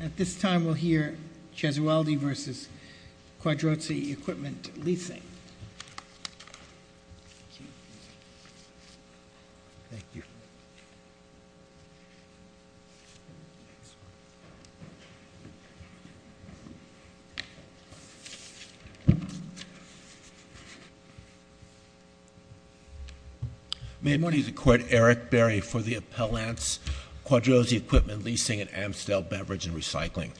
At this time, we'll hear Gesualdi v. Quadrozzi Equipment Leasing. May it please the Court, Eric Berry for the Appellant's Quadrozzi Equipment Leasing at Amstel Beverage and Recycling.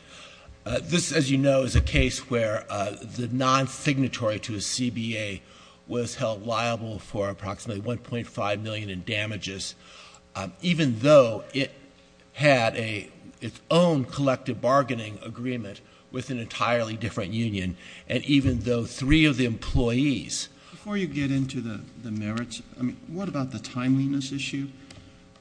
This, as you know, is a case where the non-signatory to a CBA was held liable for approximately $1.5 million in damages, even though it had its own collective bargaining agreement with an entirely different union, and even though three of the employees — Before you get into the merits, what about the timeliness issue?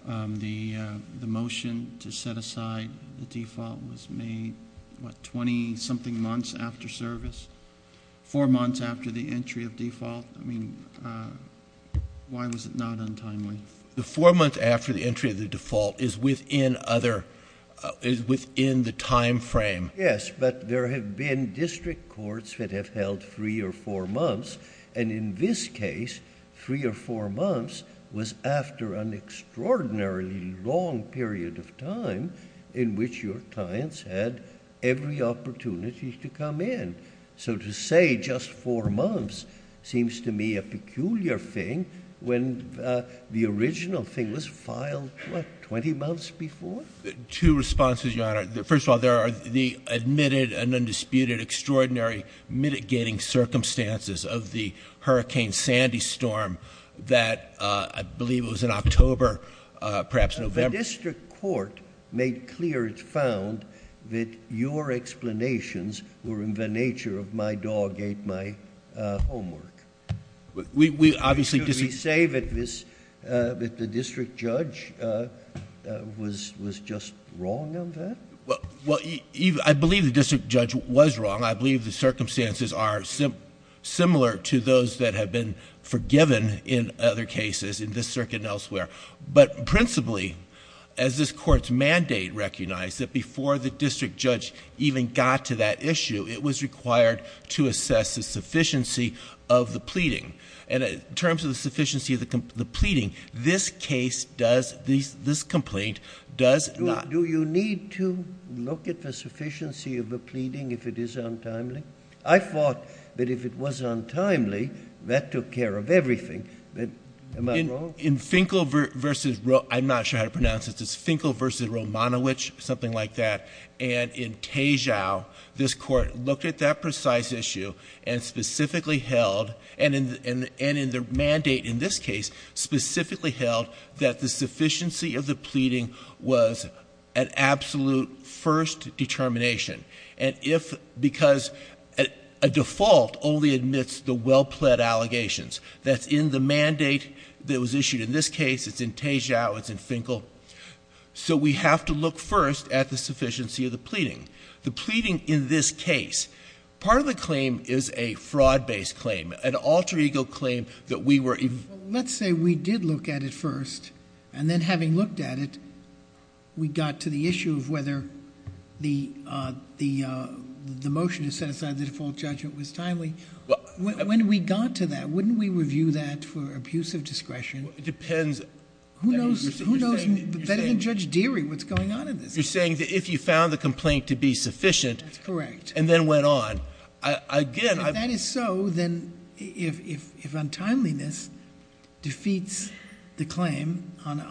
The motion to set aside the default was made, what, 20-something months after service? Four months after the entry of default? I mean, why was it not untimely? The four months after the entry of the default is within the time frame. Yes, but there have been district courts that have held three or four months, and in this case, three or four months was after an extraordinarily long period of time in which your clients had every opportunity to come in. So to say just four months seems to me a peculiar thing when the original thing was filed, what, 20 months before? Two responses, Your Honor. First of all, there are the admitted and undisputed extraordinary mitigating circumstances of the Hurricane Sandy storm that I believe it was in October, perhaps November... The district court made clear it found that your explanations were in the nature of my dog ate my homework. We obviously... Should we say that the district judge was just wrong on that? Well, I believe the district judge was wrong. I believe the circumstances are similar to those that have been forgiven in other cases in this circuit and elsewhere. But principally, as this court's mandate recognized, that before the district judge even got to that issue, it was required to assess the sufficiency of the pleading. And in terms of the sufficiency of the pleading, this case does, this complaint does not... I thought that if it was untimely, that took care of everything, but am I wrong? In Finkel versus, I'm not sure how to pronounce this, it's Finkel versus Romanowich, something like that. And in Tejau, this court looked at that precise issue and specifically held, and in the mandate in this case, specifically held that the sufficiency of the pleading was an absolute first determination. And if, because a default only admits the well-pled allegations, that's in the mandate that was issued in this case, it's in Tejau, it's in Finkel. So we have to look first at the sufficiency of the pleading. The pleading in this case, part of the claim is a fraud-based claim, an alter ego claim that we were... The motion to set aside the default judgment was timely. When we got to that, wouldn't we review that for abuse of discretion? It depends. Who knows better than Judge Deery what's going on in this case? You're saying that if you found the complaint to be sufficient. That's correct. And then went on. Again, I... If that is so, then if untimeliness defeats the claim on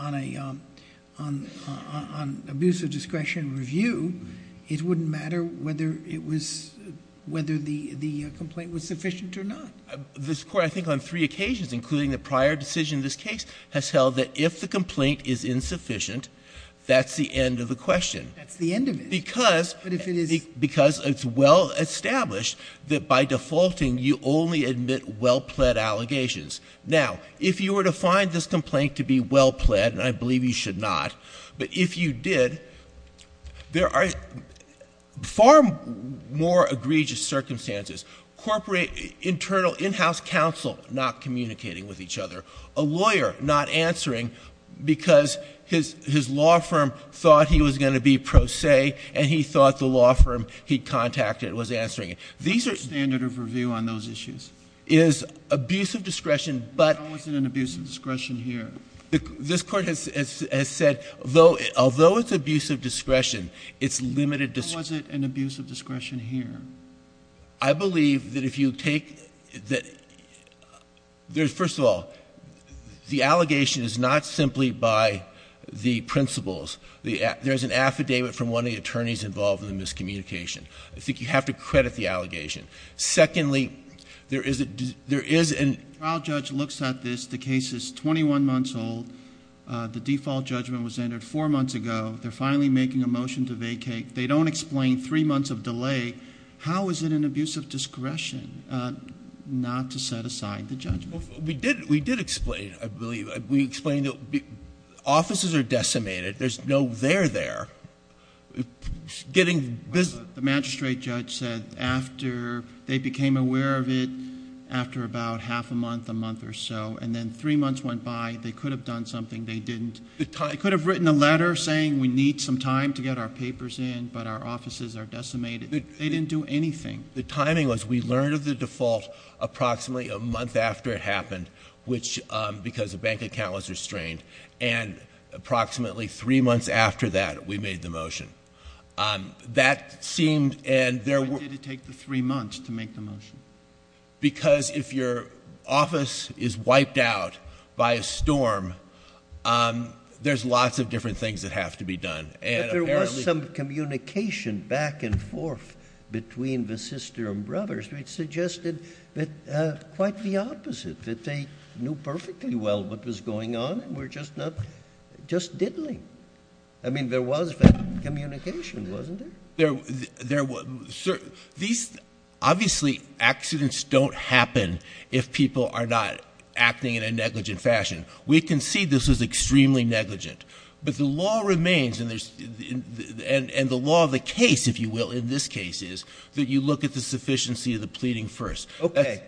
abuse of discretion review, it wouldn't matter whether the complaint was sufficient or not. This court, I think on three occasions, including the prior decision in this case, has held that if the complaint is insufficient, that's the end of the question. That's the end of it. Because it's well established that by defaulting, you only admit well-pled allegations. Now, if you were to find this complaint to be well-pled, and I believe you should not, but if you did, there are far more egregious circumstances. Corporate internal in-house counsel not communicating with each other. A lawyer not answering because his law firm thought he was going to be pro se, and he thought the law firm he contacted was answering it. These are... What's the standard of review on those issues? Is abuse of discretion, but... There wasn't an abuse of discretion here. This court has said, although it's abuse of discretion, it's limited... There wasn't an abuse of discretion here. I believe that if you take... First of all, the allegation is not simply by the principles. There's an affidavit from one of the attorneys involved in the miscommunication. I think you have to credit the allegation. Secondly, there is a... The trial judge looks at this. The case is twenty-one months old. The default judgment was entered four months ago. They're finally making a motion to vacate. They don't explain three months of delay. How is it an abuse of discretion not to set aside the judgment? We did explain, I believe. We explained that offices are decimated. There's no there there. Getting... The magistrate judge said after they became aware of it, after about half a month, a month or so, and then three months went by, they could have done something. They didn't. They could have written a letter saying we need some time to get our papers in, but our offices are decimated. They didn't do anything. The timing was we learned of the default approximately a month after it happened, which, because the bank account was restrained. And approximately three months after that, we made the motion. That seemed... And there were... How did you choose to make the motion? Because if your office is wiped out by a storm, there's lots of different things that have to be done, and apparently- But there was some communication back and forth between the sister and brothers which suggested quite the opposite, that they knew perfectly well what was going on, and were just not, just diddling. I mean, there was that communication wasn't there? There were, these, obviously, accidents don't happen if people are not acting in a negligent fashion. We can see this is extremely negligent. But the law remains, and the law of the case, if you will, in this case, is that you look at the sufficiency of the pleading first. Okay,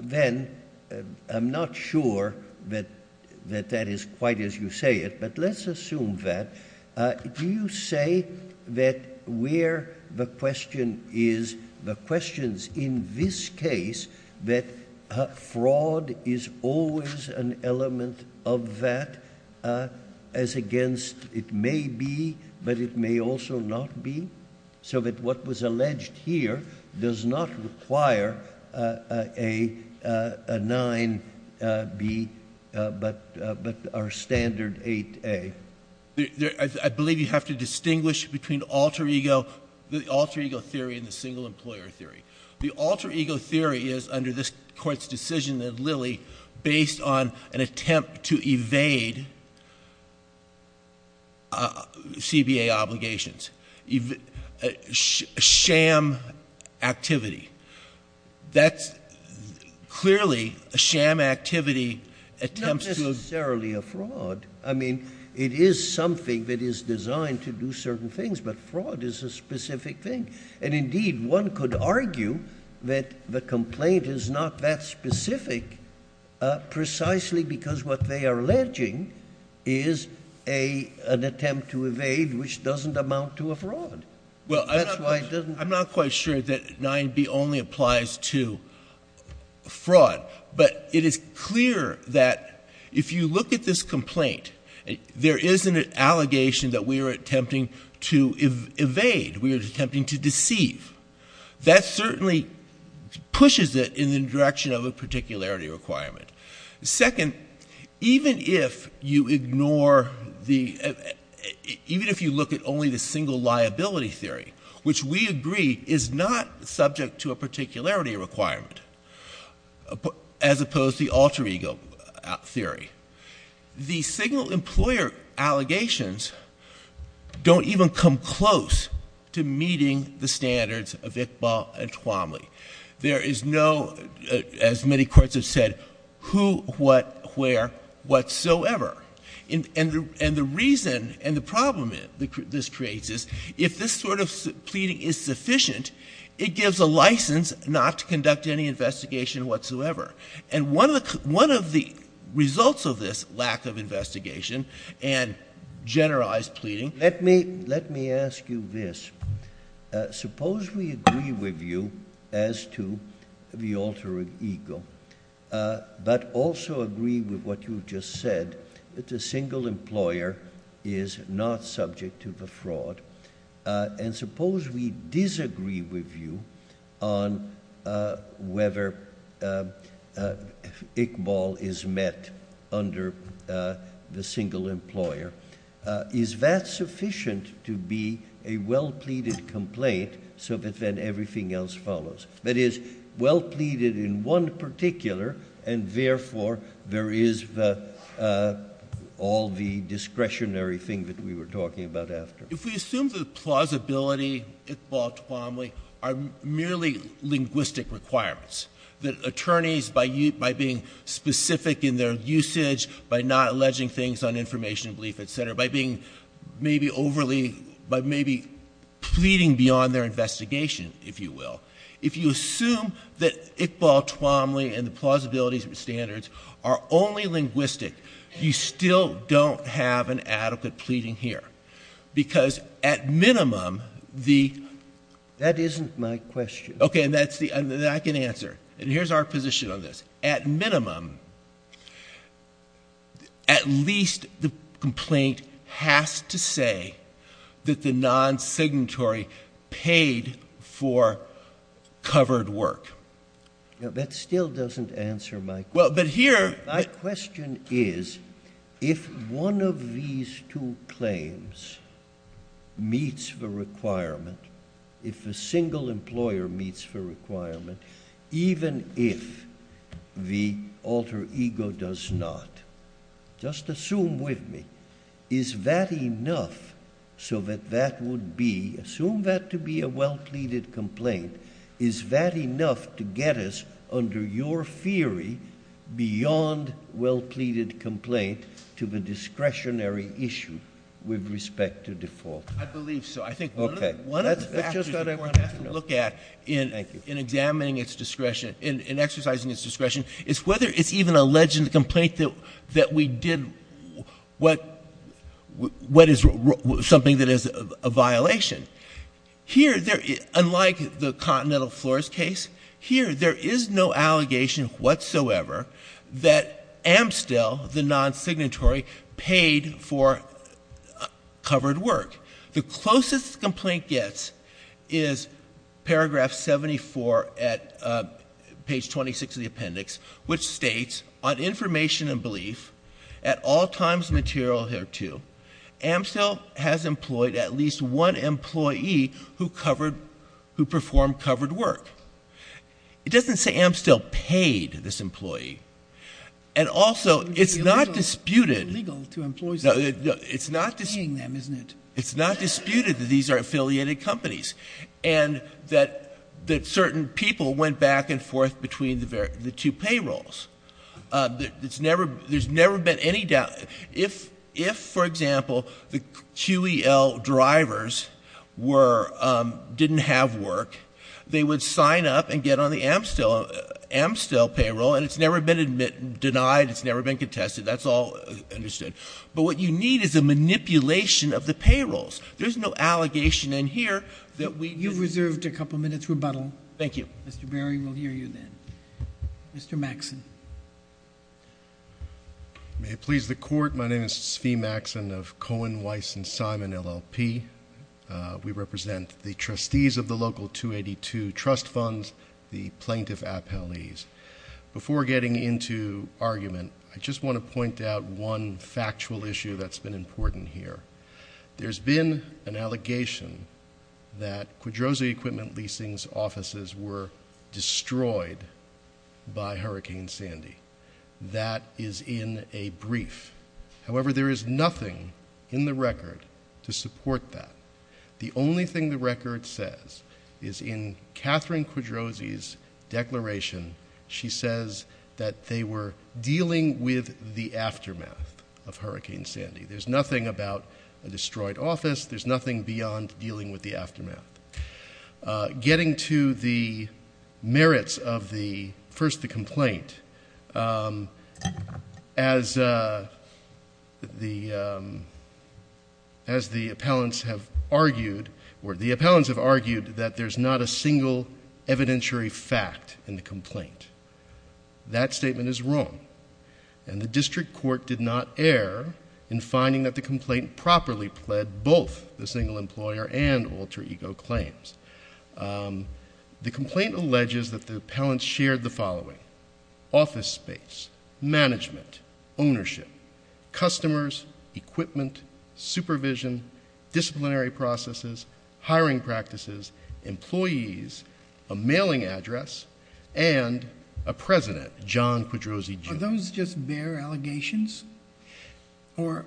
then, I'm not sure that that is quite as you say it, but let's assume that. Do you say that where the question is, the questions in this case, that fraud is always an element of that as against it may be, but it may also not be? So that what was alleged here does not require a 9B, but our standard 8A. I believe you have to distinguish between alter ego, the alter ego theory and the single employer theory. The alter ego theory is under this court's decision in Lilly based on an attempt to evade CBA obligations, a sham activity. That's clearly a sham activity attempts to- Not necessarily a fraud. I mean, it is something that is designed to do certain things, but fraud is a specific thing. And indeed, one could argue that the complaint is not that specific precisely because what they are alleging is an attempt to evade which doesn't amount to a fraud. That's why it doesn't- I'm not quite sure that 9B only applies to fraud. But it is clear that if you look at this complaint, there is an allegation that we are attempting to evade, we are attempting to deceive. That certainly pushes it in the direction of a particularity requirement. Second, even if you ignore the, even if you look at only the single liability theory, which we agree is not subject to a particularity requirement. As opposed to alter ego theory. The single employer allegations don't even come close to meeting the standards of Iqbal and Twomley. There is no, as many courts have said, who, what, where, whatsoever. And the reason and the problem this creates is if this sort of pleading is sufficient, it gives a license not to conduct any investigation whatsoever. And one of the results of this lack of investigation and generalized pleading. Let me, let me ask you this. Suppose we agree with you as to the alter ego, but also agree with what you've just said, that the single employer is not subject to the fraud. And suppose we disagree with you on whether Iqbal is met under the single employer. Is that sufficient to be a well pleaded complaint so that then everything else follows? That is, well pleaded in one particular and therefore there is all the discretionary thing that we were talking about after. If we assume the plausibility, Iqbal, Twomley, are merely linguistic requirements. That attorneys, by being specific in their usage, by not alleging things on information, belief, etc., by being maybe overly, by maybe pleading beyond their investigation, if you will. If you assume that Iqbal, Twomley, and the plausibility standards are only linguistic, you still don't have an adequate pleading here, because at minimum, the- That isn't my question. Okay, and that's the, and I can answer. And here's our position on this. At minimum, at least the complaint has to say that the non-signatory paid for covered work. No, that still doesn't answer my question. Well, but here- My question is, if one of these two claims meets the requirement, if a single employer meets the requirement, even if the alter ego does not, just assume with me, is that enough so that that would be, assume that to be a well pleaded complaint, is that enough to get us, under your theory, beyond well pleaded complaint to the discretionary issue with respect to default? I believe so. I think one of the factors that we're going to have to look at in examining its discretion, in exercising its discretion, is whether it's even alleged in the complaint that we did, what is something that is a violation. Here, unlike the Continental Floors case, here there is no allegation whatsoever that Amstel, the non-signatory, paid for covered work. The closest complaint gets is paragraph 74 at page 26 of the appendix, which states, on information and belief, at all times material hereto, Amstel has employed at least one employee who covered, who performed covered work. It doesn't say Amstel paid this employee. And also, it's not disputed- It's illegal to employ someone paying them, isn't it? It's not disputed that these are affiliated companies. And that certain people went back and forth between the two payrolls. There's never been any doubt. If, for example, the QEL drivers didn't have work, they would sign up and get on the Amstel payroll, and it's never been denied, it's never been contested. That's all understood. But what you need is a manipulation of the payrolls. There's no allegation in here that we- You've reserved a couple minutes rebuttal. Thank you. Mr. Berry will hear you then. Mr. Maxon. May it please the court, my name is Svee Maxon of Cohen, Weiss, and Simon, LLP. We represent the trustees of the local 282 trust funds, the plaintiff appellees. Before getting into argument, I just want to point out one factual issue that's been important here. There's been an allegation that Quadroza Equipment Leasing's offices were destroyed by Hurricane Sandy. That is in a brief. However, there is nothing in the record to support that. The only thing the record says is in Catherine Quadroza's declaration, she says that they were dealing with the aftermath of Hurricane Sandy. There's nothing about a destroyed office, there's nothing beyond dealing with the aftermath. Getting to the merits of the, first the complaint, as the appellants have argued that there's not a single evidentiary fact in the complaint. That statement is wrong. And the district court did not err in finding that the complaint properly pled both the single employer and alter ego claims. The complaint alleges that the appellants shared the following. Office space, management, ownership, customers, equipment, supervision, disciplinary processes, hiring practices, employees, a mailing address, and a president, John Quadroza Jr. Are those just bare allegations or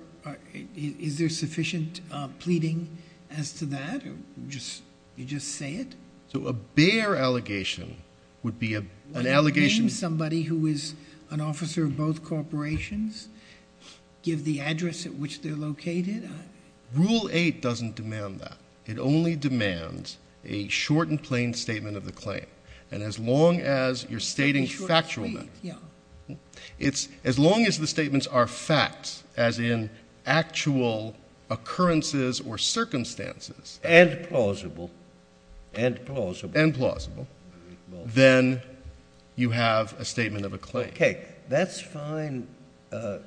is there sufficient pleading as to that, you just say it? So a bare allegation would be an allegation. Somebody who is an officer of both corporations, give the address at which they're located. Rule eight doesn't demand that. It only demands a short and plain statement of the claim. And as long as you're stating factual. Yeah. It's, as long as the statements are facts, as in actual occurrences or circumstances. And plausible. And plausible. And plausible. Then you have a statement of a claim. Okay, that's fine for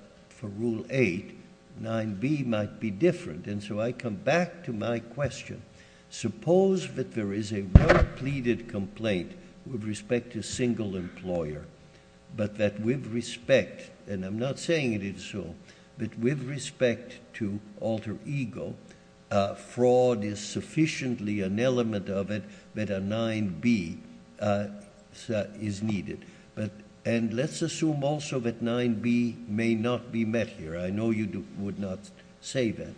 rule eight. Nine B might be different. And so I come back to my question. Suppose that there is a well pleaded complaint with respect to single employer. But that with respect, and I'm not saying it is so, but with respect to alter ego, fraud is sufficiently an element of it that a nine B is needed. And let's assume also that nine B may not be met here. I know you would not say that.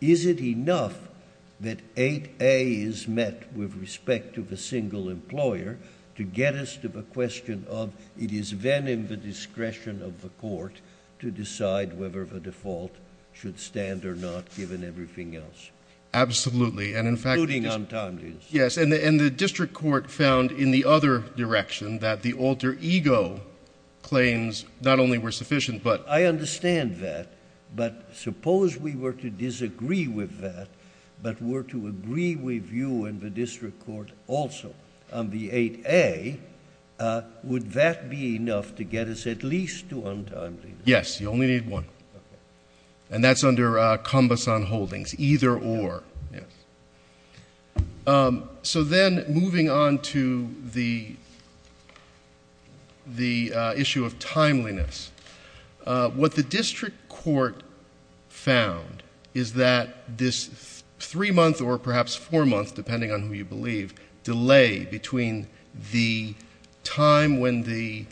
Is it enough that eight A is met with respect to the single employer to get us to the question of, it is then in the discretion of the court to decide whether the default should stand or not, given everything else. Absolutely. And in fact. Including untimely. Yes. And the district court found in the other direction that the alter ego claims not only were sufficient, but. I understand that. But suppose we were to disagree with that, but were to agree with you and the district court also on the eight A. Would that be enough to get us at least to untimely? Yes, you only need one. And that's under Combus on holdings, either or. So then, moving on to the issue of timeliness. What the district court found is that this three month or perhaps four month, depending on who you believe, delay between the time when the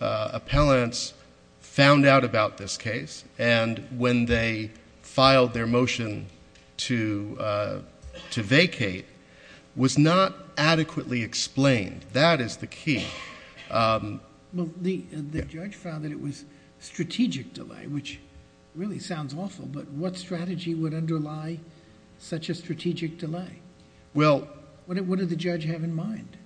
appellants found out about this case and when they filed their motion to vacate was not adequately explained. That is the key. Well, the judge found that it was strategic delay, which really sounds awful. But what strategy would underlie such a strategic delay? Well. What did the judge have in mind?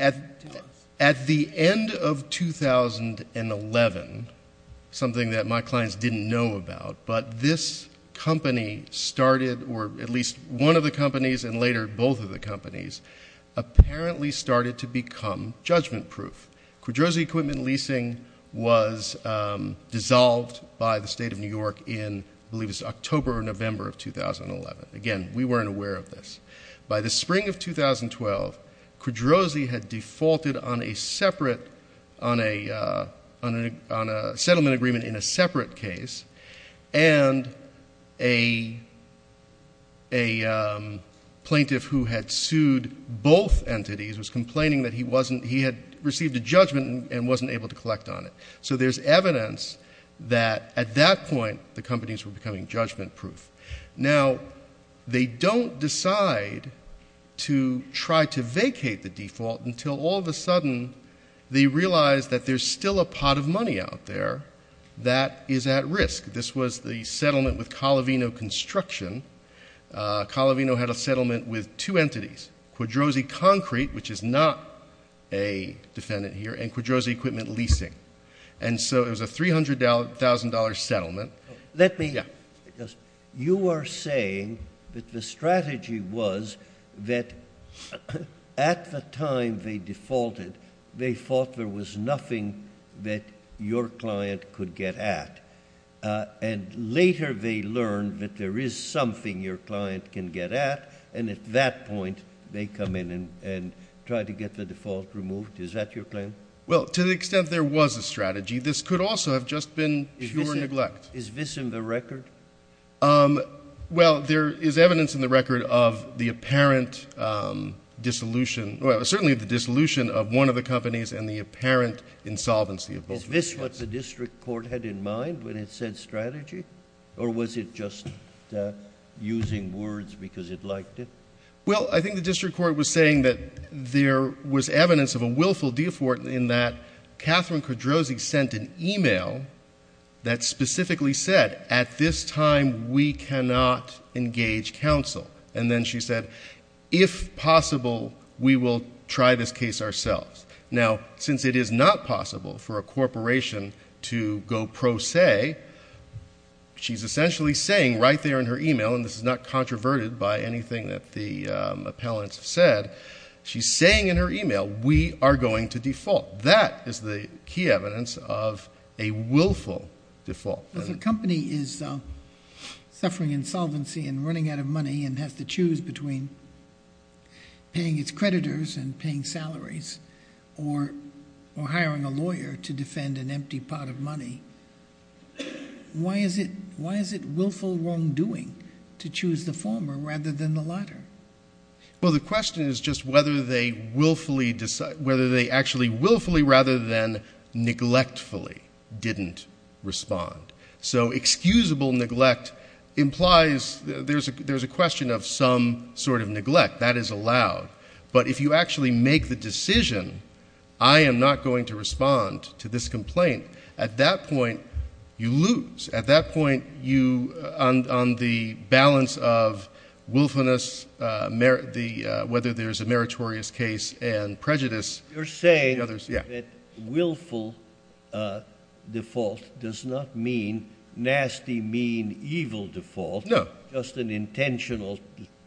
At the end of 2011, something that my clients didn't know about. But this company started, or at least one of the companies and later both of the companies, apparently started to become judgment proof. Quadrosi Equipment Leasing was dissolved by the state of New York in, I believe it was October or November of 2011. Again, we weren't aware of this. By the spring of 2012, Quadrosi had defaulted on a separate, on a settlement agreement in a separate case. And a plaintiff who had sued both entities was complaining that he wasn't, he had received a judgment and wasn't able to collect on it. So there's evidence that at that point, the companies were becoming judgment proof. Now, they don't decide to try to vacate the default until all of a sudden they realize that there's still a pot of money out there that is at risk. This was the settlement with Colavino Construction. Colavino had a settlement with two entities, Quadrosi Concrete, which is not a defendant here, and Quadrosi Equipment Leasing. And so it was a $300,000 settlement. Let me- Yeah. You are saying that the strategy was that at the time they defaulted, they thought there was nothing that your client could get at. And later they learned that there is something your client can get at. And at that point, they come in and try to get the default removed. Is that your claim? Well, to the extent there was a strategy, this could also have just been pure neglect. Is this in the record? Well, there is evidence in the record of the apparent dissolution. Well, certainly the dissolution of one of the companies and the apparent insolvency of both. Is this what the district court had in mind when it said strategy? Or was it just using words because it liked it? Well, I think the district court was saying that there was evidence of a willful default in that Catherine Quadrosi sent an email that specifically said, at this time, we cannot engage counsel. And then she said, if possible, we will try this case ourselves. Now, since it is not possible for a corporation to go pro se, she's essentially saying right there in her email, and this is not controverted by anything that the appellants have said, she's saying in her email, we are going to default. That is the key evidence of a willful default. If a company is suffering insolvency and running out of money and has to choose between paying its creditors and paying salaries or hiring a lawyer to defend an empty pot of money, why is it willful wrongdoing to choose the former rather than the latter? Well, the question is just whether they actually willfully rather than neglectfully didn't respond. So excusable neglect implies there's a question of some sort of neglect. That is allowed. But if you actually make the decision, I am not going to respond to this complaint, at that point, you lose. At that point, on the balance of willfulness, whether there's a meritorious case and prejudice— You're saying that willful default does not mean nasty, mean, evil default. No. Just an intentional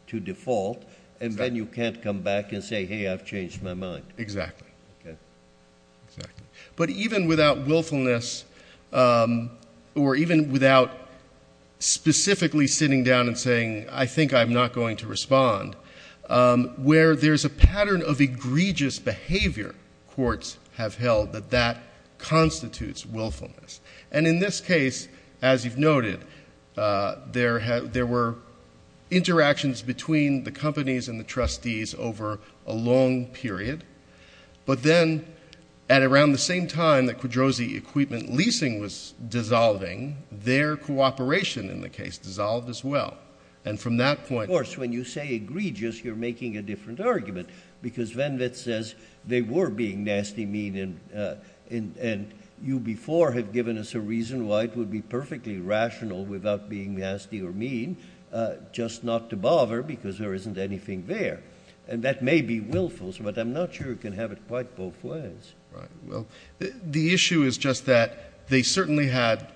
to default. And then you can't come back and say, hey, I've changed my mind. Exactly. Exactly. But even without willfulness or even without specifically sitting down and saying, I think I'm not going to respond, where there's a pattern of egregious behavior courts have held that that constitutes willfulness. And in this case, as you've noted, there were interactions between the companies and the trustees over a long period. But then at around the same time that Quadrosi Equipment Leasing was dissolving, their cooperation in the case dissolved as well. And from that point— Of course, when you say egregious, you're making a different argument. Because Venvet says they were being nasty, mean, and you before have given us a reason why it would be perfectly rational without being nasty or mean just not to bother because there isn't anything there. And that may be willfulness, but I'm not sure it can have it quite both ways. Right. Well, the issue is just that they certainly had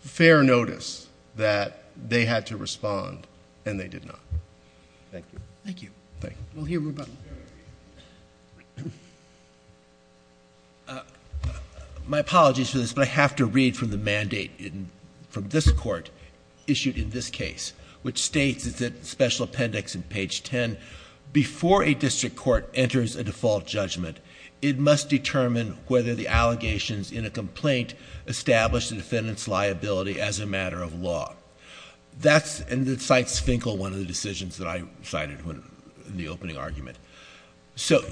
fair notice that they had to respond and they did not. Thank you. Thank you. Thank you. We'll hear from— My apologies for this, but I have to read from the mandate from this court issued in this case, which states—it's a special appendix in page 10—before a district court enters a default judgment, it must determine whether the allegations in a complaint establish the defendant's liability as a matter of law. That's—and it cites Finkel, one of the decisions that I cited in the opening argument. So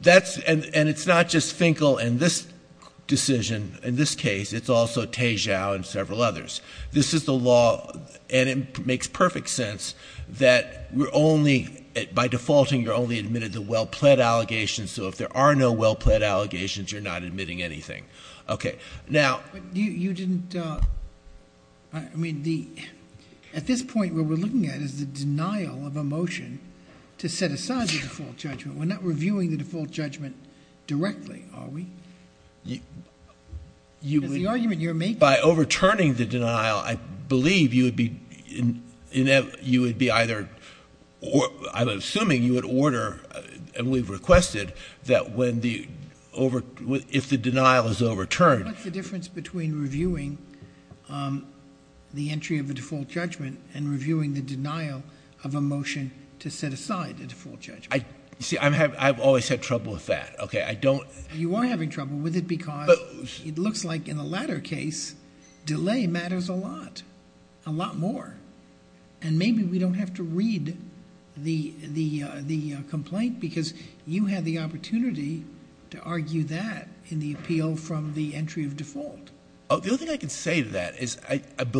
that's—and it's not just Finkel in this decision. In this case, it's also Tejao and several others. This is the law, and it makes perfect sense that we're only—by defaulting, you're only admitted the well-pled allegations. So if there are no well-pled allegations, you're not admitting anything. Okay. But you didn't—I mean, at this point, what we're looking at is the denial of a motion to set aside the default judgment. We're not reviewing the default judgment directly, are we? Because the argument you're making— By overturning the denial, I believe you would be—you would be either—I'm assuming you would order, and we've requested, that when the—if the denial is overturned— What's the difference between reviewing the entry of a default judgment and reviewing the denial of a motion to set aside a default judgment? I—see, I've always had trouble with that, okay? I don't— You are having trouble with it because it looks like, in the latter case, delay matters a lot, a lot more. And maybe we don't have to read the complaint because you had the opportunity to argue that in the appeal from the entry of default. Oh, the only thing I can say to that is I've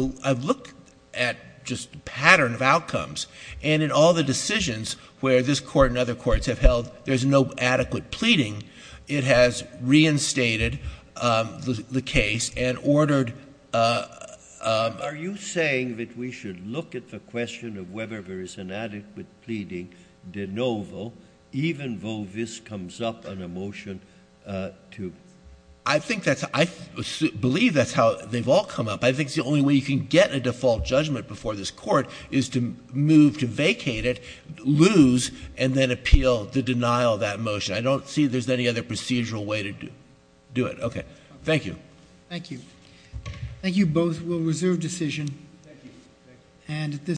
looked at just a pattern of outcomes, and in all the decisions where this Court and other courts have held there's no adequate pleading, it has reinstated the case and ordered— Are you saying that we should look at the question of whether there is an adequate pleading de novo, even though this comes up on a motion to— I think that's—I believe that's how they've all come up. I think it's the only way you can get a default judgment before this Court is to move to vacate it, lose, and then appeal the denial of that motion. I don't see there's any other procedural way to do it. Okay. Thank you. Thank you. Thank you both. We'll reserve decision. And at this—